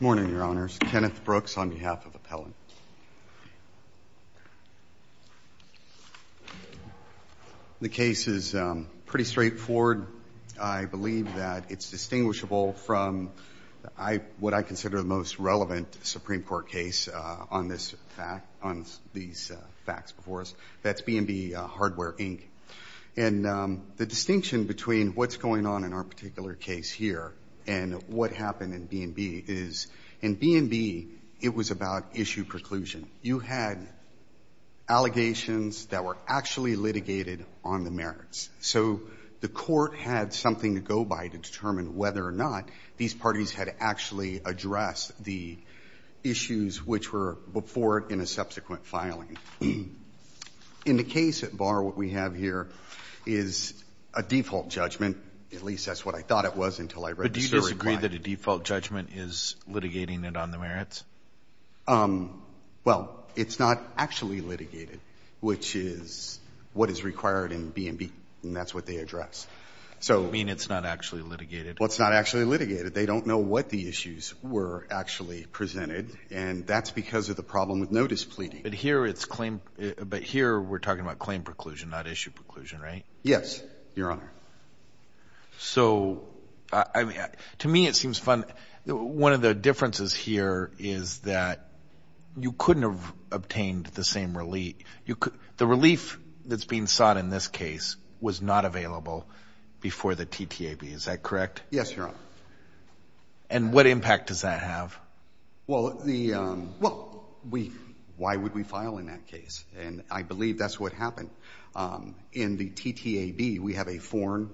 Morning, Your Honors. Kenneth Brooks on behalf of Appellant. The case is pretty straightforward. I believe that it's distinguishable from what I consider the most relevant Supreme Court case on this fact, on these facts before us. That's B&B Hardware Inc. and the distinction between what's going on in our particular case here and what happened in B&B is, in B&B, it was about issue preclusion. You had allegations that were actually litigated on the merits. So the Court had something to go by to determine whether or not these parties had actually addressed the issues which were before it in a subsequent filing. In the case at bar, what we have here is a default judgment. At least that's what I thought it was until I read the SIR reply. But do you disagree that a default judgment is litigating it on the merits? Well, it's not actually litigated, which is what is required in B&B, and that's what they address. You mean it's not actually litigated? Well, it's not actually litigated. They don't know what the issues were actually presented, and that's because of the problem with notice pleading. But here it's claim – but here we're talking about claim preclusion, not issue preclusion, right? Yes, Your Honor. So, I mean, to me it seems fun – one of the differences here is that you couldn't have obtained the same relief. The relief that's being sought in this case was not available before the TTAB. Is that correct? Yes, Your Honor. And what impact does that have? Well, the – well, we – why would we file in that case? And I believe that's what happened. In the TTAB, we have a foreign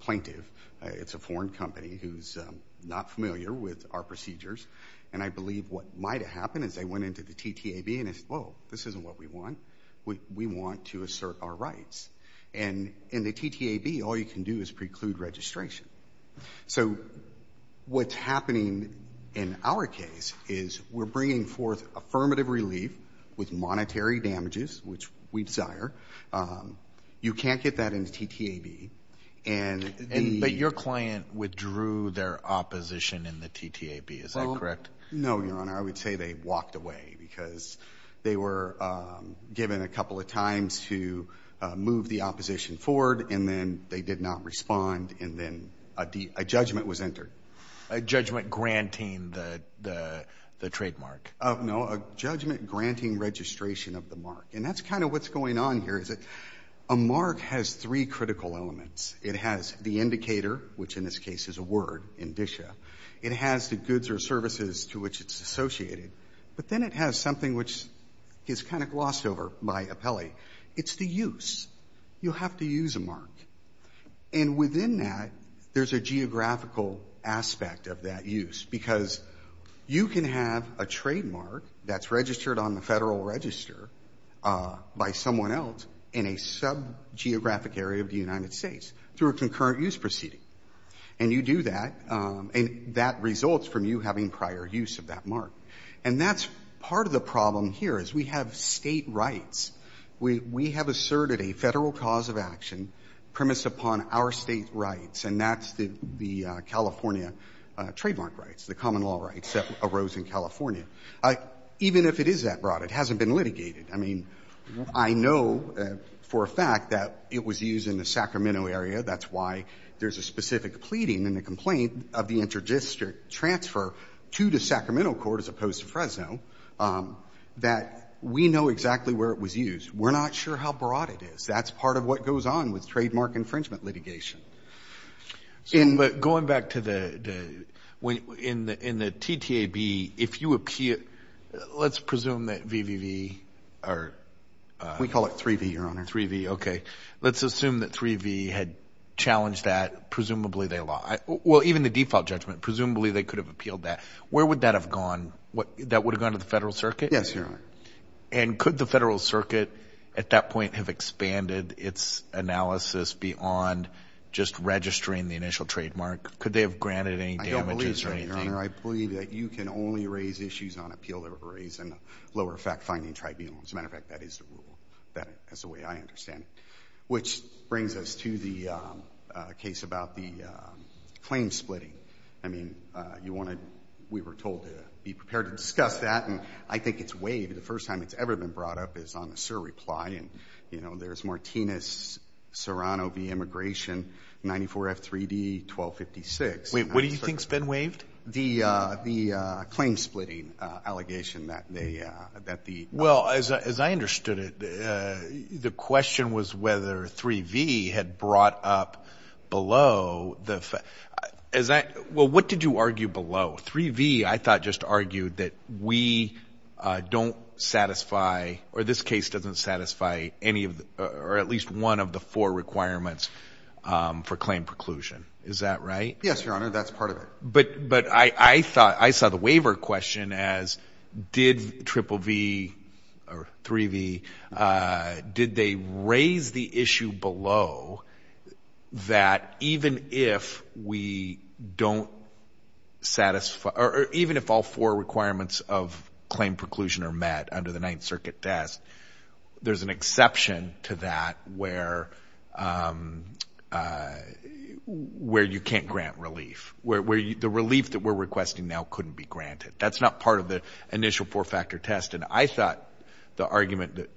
plaintiff. It's a foreign company who's not familiar with our procedures. And I believe what might have happened is they went into the TTAB and said, whoa, this isn't what we want. We want to assert our rights. And in the TTAB, all you can do is preclude registration. So what's happening in our case is we're bringing forth affirmative relief with monetary damages, which we desire. You can't get that in the TTAB. And the – But your client withdrew their opposition in the TTAB. Is that correct? No, Your Honor. I would say they walked away because they were given a couple of times to move the opposition forward, and then they did not respond, and then a judgment was entered. A judgment granting the trademark. No, a judgment granting registration of the mark. And that's kind of what's going on here, is that a mark has three critical elements. It has the indicator, which in this case is a word, indicia. It has the goods or services to which it's It's the use. You have to use a mark. And within that, there's a geographical aspect of that use, because you can have a trademark that's registered on the Federal Register by someone else in a sub-geographic area of the United States through a concurrent use proceeding. And you do that, and that results from you having prior use of that mark. And that's part of the problem here, is we have state rights. We have asserted a Federal cause of action premised upon our state rights, and that's the California trademark rights, the common law rights that arose in California. Even if it is that broad, it hasn't been litigated. I mean, I know for a fact that it was used in the Sacramento area. That's why there's a specific pleading in the complaint of the inter-district transfer to the Sacramento court, as opposed to Fresno, that we know exactly where it was used. We're not sure how broad it is. That's part of what goes on with trademark infringement litigation. But going back to the — in the TTAB, if you appeal — let's presume that VVV are We call it 3V, Your Honor. 3V. Okay. Let's assume that 3V had challenged that. Presumably, they — well, even the default judgment, presumably, they could have appealed that. Where would that have gone? That would have gone to the Federal Circuit? Yes, Your Honor. And could the Federal Circuit at that point have expanded its analysis beyond just registering the initial trademark? Could they have granted any damages or anything? I don't believe so, Your Honor. I believe that you can only raise issues on appeal that were raised in the lower effect finding tribunal. As a matter of fact, that is the rule, as the way I understand it. Which brings us to the case about the claim splitting. I mean, you want to — we were told to be prepared to discuss that, and I think it's waived. The first time it's ever been brought up is on a SIR reply. And, you know, there's Martinez-Serrano v. Immigration, 94F3D-1256. Wait. What do you think's been waived? The — the claim splitting allegation that they — that the — Well, as I understood it, the question was whether 3V had brought up below the — as I — well, what did you argue below? 3V, I thought, just argued that we don't satisfy — or this case doesn't satisfy any of — or at least one of the four requirements for claim preclusion. Is that right? Yes, Your Honor. That's part of it. But I thought — I saw the waiver question as, did Triple V or 3V, did they raise the issue below that even if we don't satisfy — or even if all four requirements of claim preclusion are met under the Ninth Circuit test, there's an exception to that where you can't grant relief, where the relief that we're requesting now couldn't be granted. That's not part of the initial four-factor test. And I thought the argument that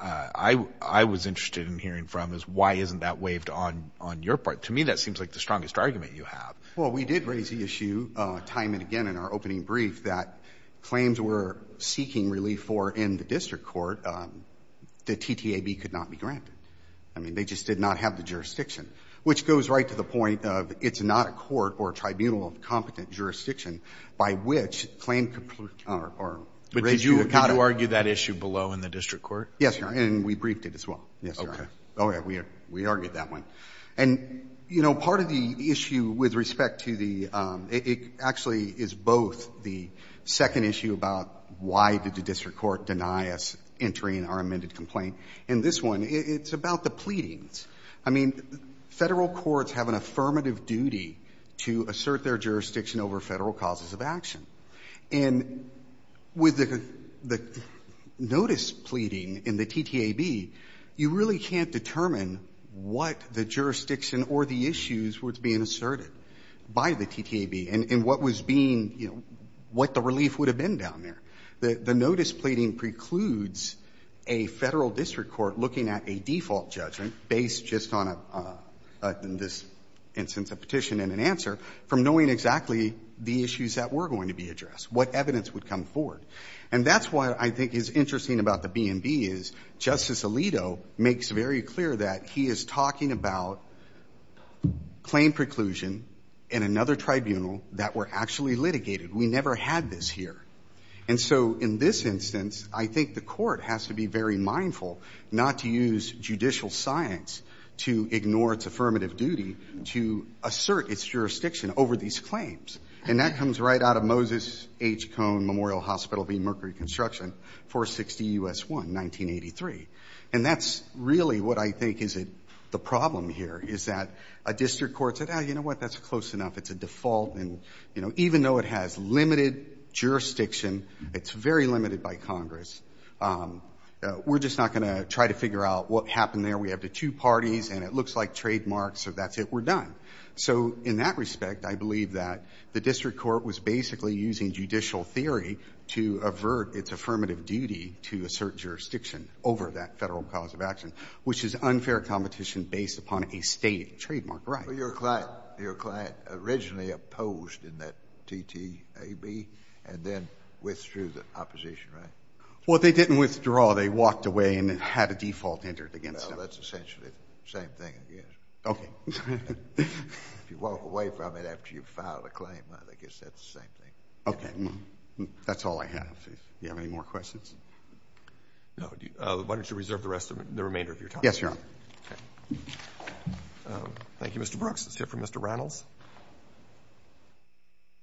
I was interested in hearing from is, why isn't that waived on your part? To me, that seems like the strongest argument you have. Well, we did raise the issue time and again in our opening brief that claims we're seeking relief for in the district court, the TTAB could not be granted. I mean, they just did not have the jurisdiction, which goes right to the point of it's not a court or a tribunal of competent jurisdiction by which claim preclusion — But did you argue that issue below in the district court? Yes, Your Honor. And we briefed it as well. Yes, Your Honor. Okay. Oh, yeah. We argued that one. And, you know, part of the issue with respect to the — it actually is both the second issue about why did the district court deny us entering our amended complaint, and this one, it's about the pleadings. I mean, Federal courts have an affirmative duty to assert their jurisdiction over Federal causes of action. And with the notice pleading in the TTAB, you really can't determine what the jurisdiction or the issues were being asserted by the TTAB, and what was being — you know, what the relief would have been down there. The notice pleading precludes a Federal district court looking at a default judgment based just on a — in this instance, a petition and an answer from knowing exactly the issues that were going to be addressed, what evidence would come forward. And that's why I think it's interesting about the B&B is Justice Alito makes very clear that he is talking about claim preclusion in another tribunal that were actually had this here. And so, in this instance, I think the court has to be very mindful not to use judicial science to ignore its affirmative duty to assert its jurisdiction over these claims. And that comes right out of Moses H. Cone Memorial Hospital v. Mercury Construction, 460 U.S. 1, 1983. And that's really what I think is the problem here, is that a district court said, oh, you know what, that's close enough, it's a default, and, you know, even though it has limited jurisdiction, it's very limited by Congress, we're just not going to try to figure out what happened there. We have the two parties, and it looks like trademarks, so that's it, we're done. So in that respect, I believe that the district court was basically using judicial theory to avert its affirmative duty to assert jurisdiction over that Federal cause of action, which is unfair competition based upon a State trademark right. Well, your client originally opposed in that TTAB, and then withdrew the opposition, right? Well, they didn't withdraw. They walked away and had a default entered against them. Well, that's essentially the same thing, I guess. Okay. If you walk away from it after you've filed a claim, I guess that's the same thing. Okay. That's all I have. Do you have any more questions? No. Why don't you reserve the rest of the remainder of your time? Yes, Your Honor. Okay. Thank you, Mr. Brooks. Let's hear from Mr. Reynolds.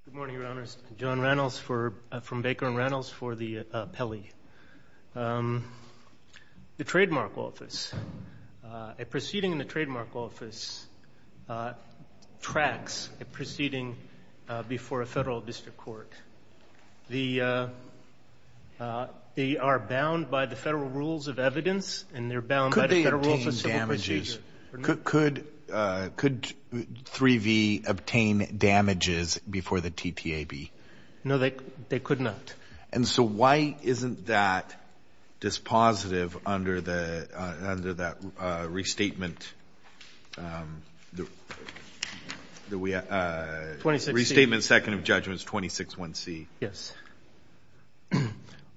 Good morning, Your Honors. John Reynolds from Baker and Reynolds for the Pelley. The trademark office, a proceeding in the trademark office tracks a proceeding before a Federal district court. The they are bound by the Federal rules of evidence, and they're bound by the Federal rules of civil procedure. Could 3-V obtain damages before the TTAB? No, they could not. And so why isn't that dispositive under that restatement second of judgment, 26-1C? Yes.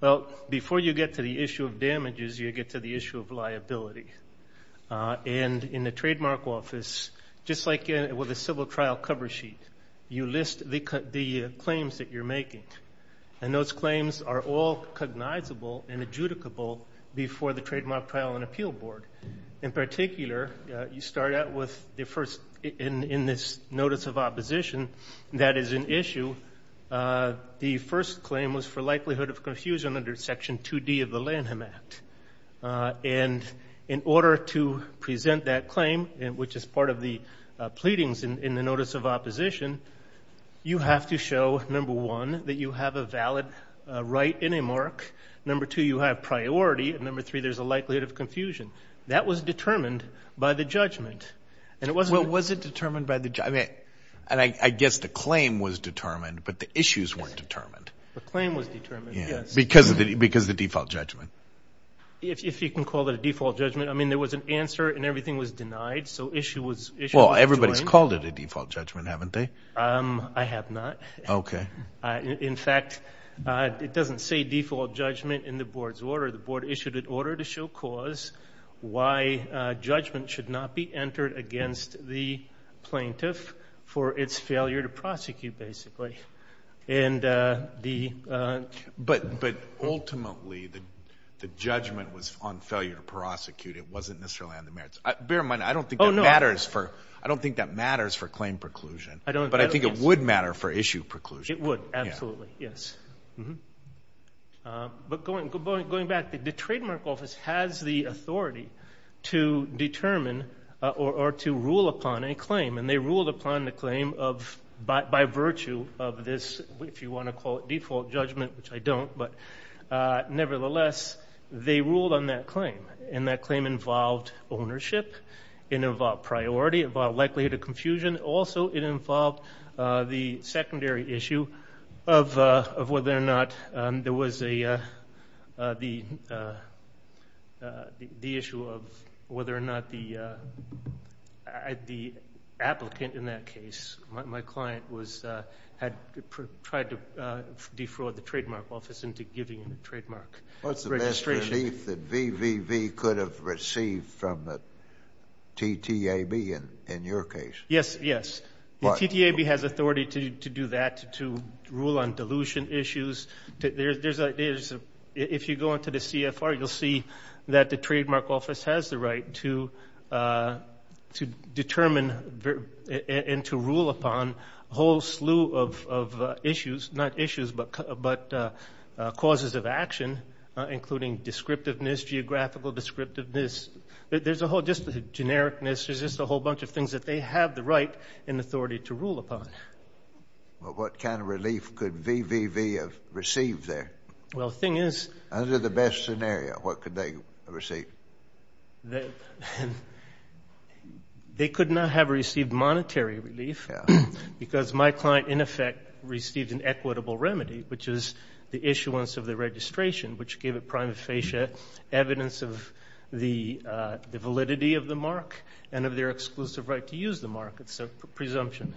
Well, before you get to the issue of damages, you get to the issue of liability. And in the trademark office, just like with a civil trial cover sheet, you list the claims that you're making. And those claims are all cognizable and adjudicable before the Trademark Trial and Appeal Board. In particular, you start out with the first, in this notice of opposition, that is an issue. The first claim was for likelihood of confusion under Section 2D of the Lanham Act. And in order to present that claim, which is part of the pleadings in the notice of opposition, you have to show, number one, that you have a valid right in a mark. Number two, you have priority. And number three, there's a likelihood of confusion. That was determined by the judgment. Well, was it determined by the judgment? And I guess the claim was determined, but the issues weren't determined. The claim was determined, yes. Because of the default judgment. If you can call it a default judgment. I mean, there was an answer and everything was denied, so issue was adjoined. Well, everybody's called it a default judgment, haven't they? I have not. Okay. In fact, it doesn't say default judgment in the board's order. The board issued an order to show cause why judgment should not be entered against the plaintiff for its failure to prosecute, basically. But ultimately, the judgment was on failure to prosecute. It wasn't necessarily on the merits. Bear in mind, I don't think that matters for claim preclusion. But I think it would matter for issue preclusion. It would, absolutely, yes. But going back, the trademark office has the authority to determine or to rule upon a claim. And they ruled upon the claim by virtue of this, if you want to call it default judgment, which I don't. But nevertheless, they ruled on that claim. And that claim involved ownership. It involved likelihood of confusion. Also, it involved the secondary issue of whether or not there was the issue of whether or not the applicant in that case, my client, had tried to defraud the trademark office into giving him a trademark registration. What's the best relief that VVV could have received from the TTAB in your case? Yes, yes. The TTAB has authority to do that, to rule on dilution issues. If you go into the CFR, you'll see that the trademark office has the right to determine and to rule upon a whole slew of issues, not issues, but causes of action, including descriptiveness, geographical descriptiveness. There's a whole just genericness. There's just a whole bunch of things that they have the right and authority to rule upon. Well, what kind of relief could VVV have received there? Well, the thing is— Under the best scenario, what could they receive? They could not have received monetary relief because my client, in effect, received an equitable remedy, which is the issuance of the registration, which gave it prima facie evidence of the validity of the mark and of their exclusive right to use the mark. It's a presumption.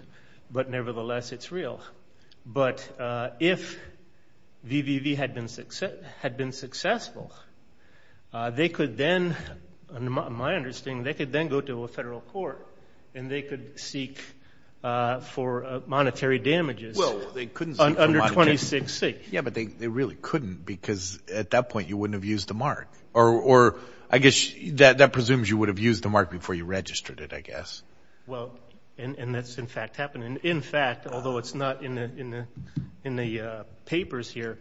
But nevertheless, it's real. But if VVV had been successful, they could then, in my understanding, they could then go to a federal court and they could seek for monetary damages under 26C. Yeah, but they really couldn't because at that point you wouldn't have used the mark. Or I guess that presumes you would have used the mark before you registered it, I guess. Well, and that's, in fact, happening. In fact, although it's not in the papers here,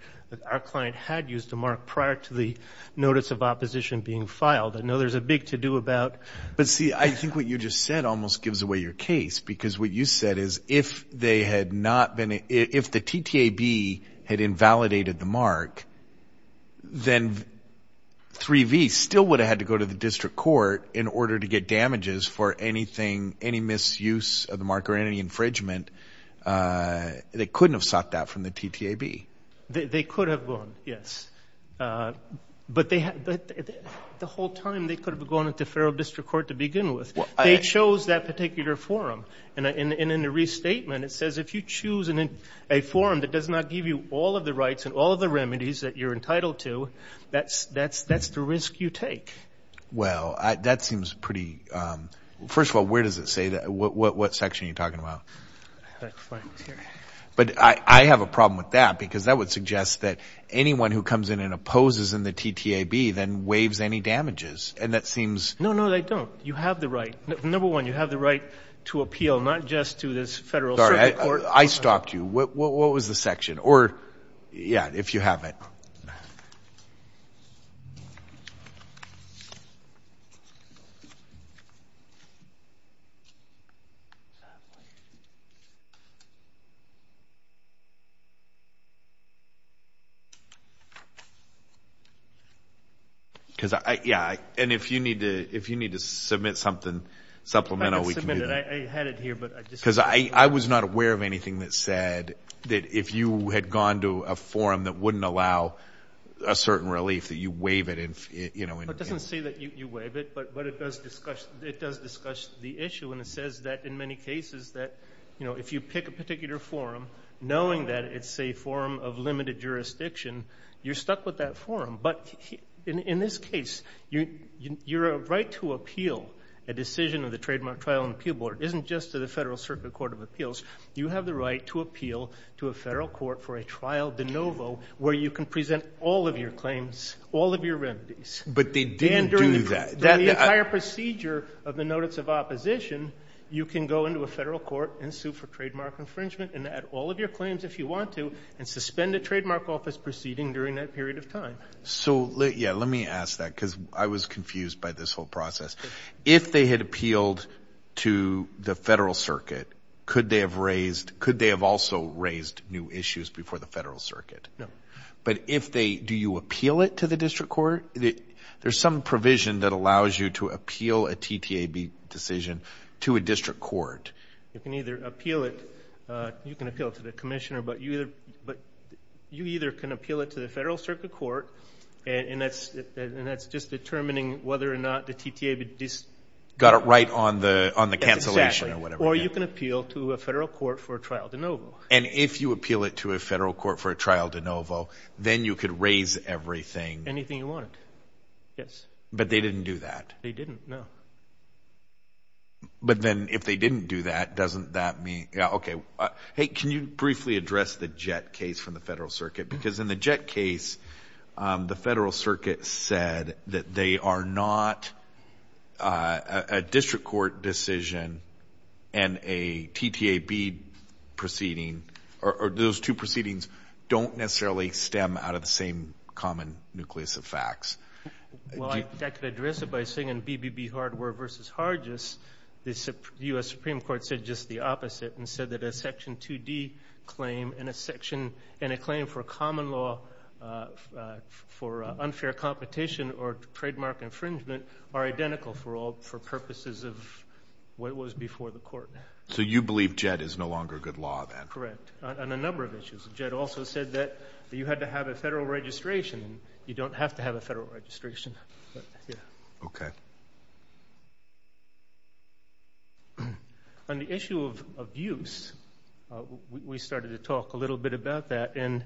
our client had used the mark prior to the notice of opposition being filed. I know there's a big to-do about— But, see, I think what you just said almost gives away your case because what you said is if the TTAB had invalidated the mark, then 3V still would have had to go to the district court in order to get damages for anything, any misuse of the mark or any infringement. They couldn't have sought that from the TTAB. They could have gone, yes. But the whole time they could have gone to the federal district court to begin with. They chose that particular forum. And in the restatement it says if you choose a forum that does not give you all of the rights and all of the remedies that you're entitled to, that's the risk you take. Well, that seems pretty—first of all, where does it say that? What section are you talking about? But I have a problem with that because that would suggest that anyone who comes in and opposes in the TTAB then waives any damages. And that seems— No, no, they don't. You have the right. Number one, you have the right to appeal not just to this federal circuit court. I stopped you. What was the section? Or, yeah, if you have it. Because, yeah, and if you need to submit something supplemental, we can do that. I had it here, but I just— Because I was not aware of anything that said that if you had gone to a forum that wouldn't allow a certain relief that you waive it. It doesn't say that you waive it, but it does discuss the issue, and it says that in many cases that if you pick a particular forum, knowing that it's a forum of limited jurisdiction, you're stuck with that forum. But in this case, your right to appeal a decision of the Trademark Trial and Appeal Board isn't just to the Federal Circuit Court of Appeals. You have the right to appeal to a federal court for a trial de novo where you can present all of your claims, all of your remedies. But they didn't do that. During the entire procedure of the notice of opposition, you can go into a federal court and sue for trademark infringement and add all of your claims if you want to and suspend a trademark office proceeding during that period of time. So, yeah, let me ask that because I was confused by this whole process. If they had appealed to the Federal Circuit, could they have also raised new issues before the Federal Circuit? No. But do you appeal it to the district court? There's some provision that allows you to appeal a TTAB decision to a district court. You can either appeal it. You can appeal it to the commissioner, but you either can appeal it to the Federal Circuit Court, and that's just determining whether or not the TTAB decision. Got it right on the cancellation or whatever. Or you can appeal to a federal court for a trial de novo. And if you appeal it to a federal court for a trial de novo, then you could raise everything. Anything you want. Yes. But they didn't do that. They didn't, no. But then if they didn't do that, doesn't that mean – okay. Hey, can you briefly address the Jett case from the Federal Circuit? Because in the Jett case, the Federal Circuit said that they are not a district court decision and a TTAB proceeding, or those two proceedings don't necessarily stem out of the same common nucleus of facts. Well, I can address it by saying in BBB Hardware v. Hargis, the U.S. Supreme Court said just the opposite and said that a Section 2D claim and a claim for a common law for unfair competition or trademark infringement are identical for purposes of what was before the court. So you believe Jett is no longer good law then? Correct. On a number of issues. Jett also said that you had to have a federal registration. You don't have to have a federal registration. Okay. On the issue of abuse, we started to talk a little bit about that, and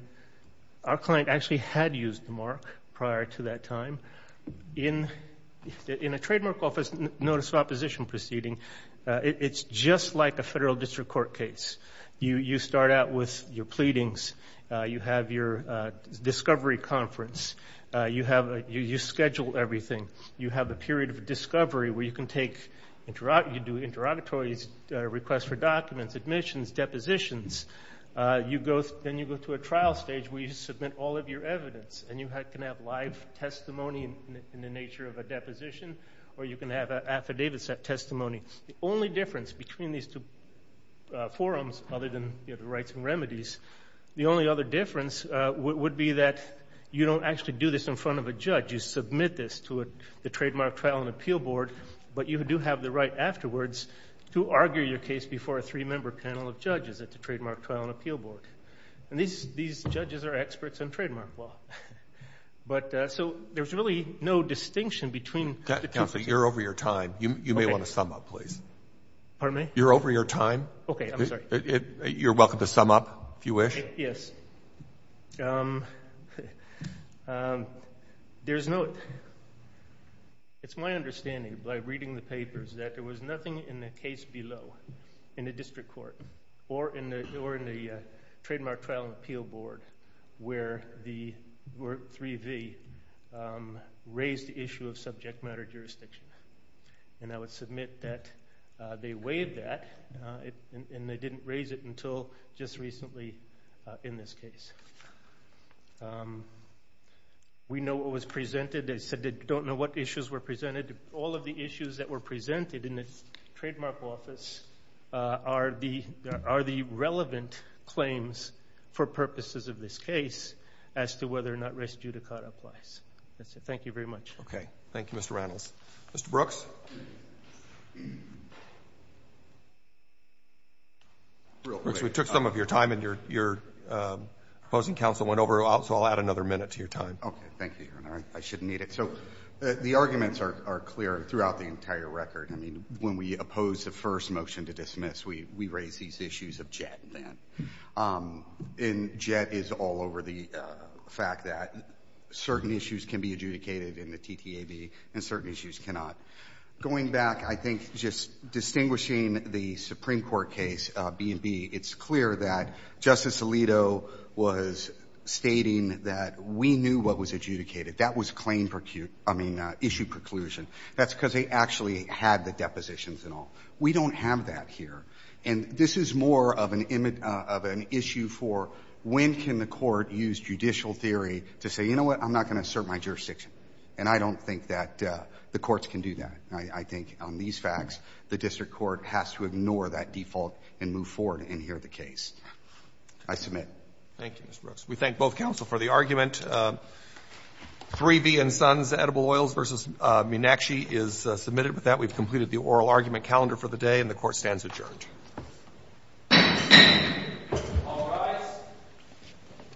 our client actually had used the mark prior to that time. In a trademark office notice of opposition proceeding, it's just like a federal district court case. You start out with your pleadings. You have your discovery conference. You schedule everything. You have a period of discovery where you can do interrogatories, requests for documents, admissions, depositions. Then you go to a trial stage where you submit all of your evidence, and you can have live testimony in the nature of a deposition or you can have affidavit testimony. The only difference between these two forums, other than the rights and remedies, the only other difference would be that you don't actually do this in front of a judge. You submit this to the Trademark Trial and Appeal Board, but you do have the right afterwards to argue your case before a three-member panel of judges at the Trademark Trial and Appeal Board. These judges are experts in trademark law. So there's really no distinction between the two. Counsel, you're over your time. You may want to sum up, please. Pardon me? You're over your time. Okay. I'm sorry. You're welcome to sum up if you wish. Yes. Okay. There's no – it's my understanding by reading the papers that there was nothing in the case below, in the district court or in the Trademark Trial and Appeal Board, where the 3V raised the issue of subject matter jurisdiction. And I would submit that they waived that, and they didn't raise it until just recently in this case. We know what was presented. They said they don't know what issues were presented. All of the issues that were presented in the trademark office are the relevant claims for purposes of this case as to whether or not res judicata applies. That's it. Thank you very much. Okay. Thank you, Mr. Reynolds. Mr. Brooks? We took some of your time, and your opposing counsel went over, so I'll add another minute to your time. Okay. Thank you, Your Honor. I shouldn't need it. So the arguments are clear throughout the entire record. I mean, when we oppose the first motion to dismiss, we raise these issues of JET, then. And JET is all over the fact that certain issues can be adjudicated in the TTAB and certain issues cannot. Going back, I think just distinguishing the Supreme Court case, B&B, it's clear that Justice Alito was stating that we knew what was adjudicated. That was claim percuse — I mean, issue preclusion. That's because they actually had the depositions and all. We don't have that here. And this is more of an issue for when can the court use judicial theory to say, you know what, I'm not going to assert my jurisdiction. And I don't think that the courts can do that. I think on these facts, the district court has to ignore that default and move forward and hear the case. I submit. Thank you, Mr. Brooks. We thank both counsel for the argument. 3B and Sons, Edible Oils v. Meenakshi, is submitted with that. We've completed the oral argument calendar for the day, and the court stands adjourned. All rise.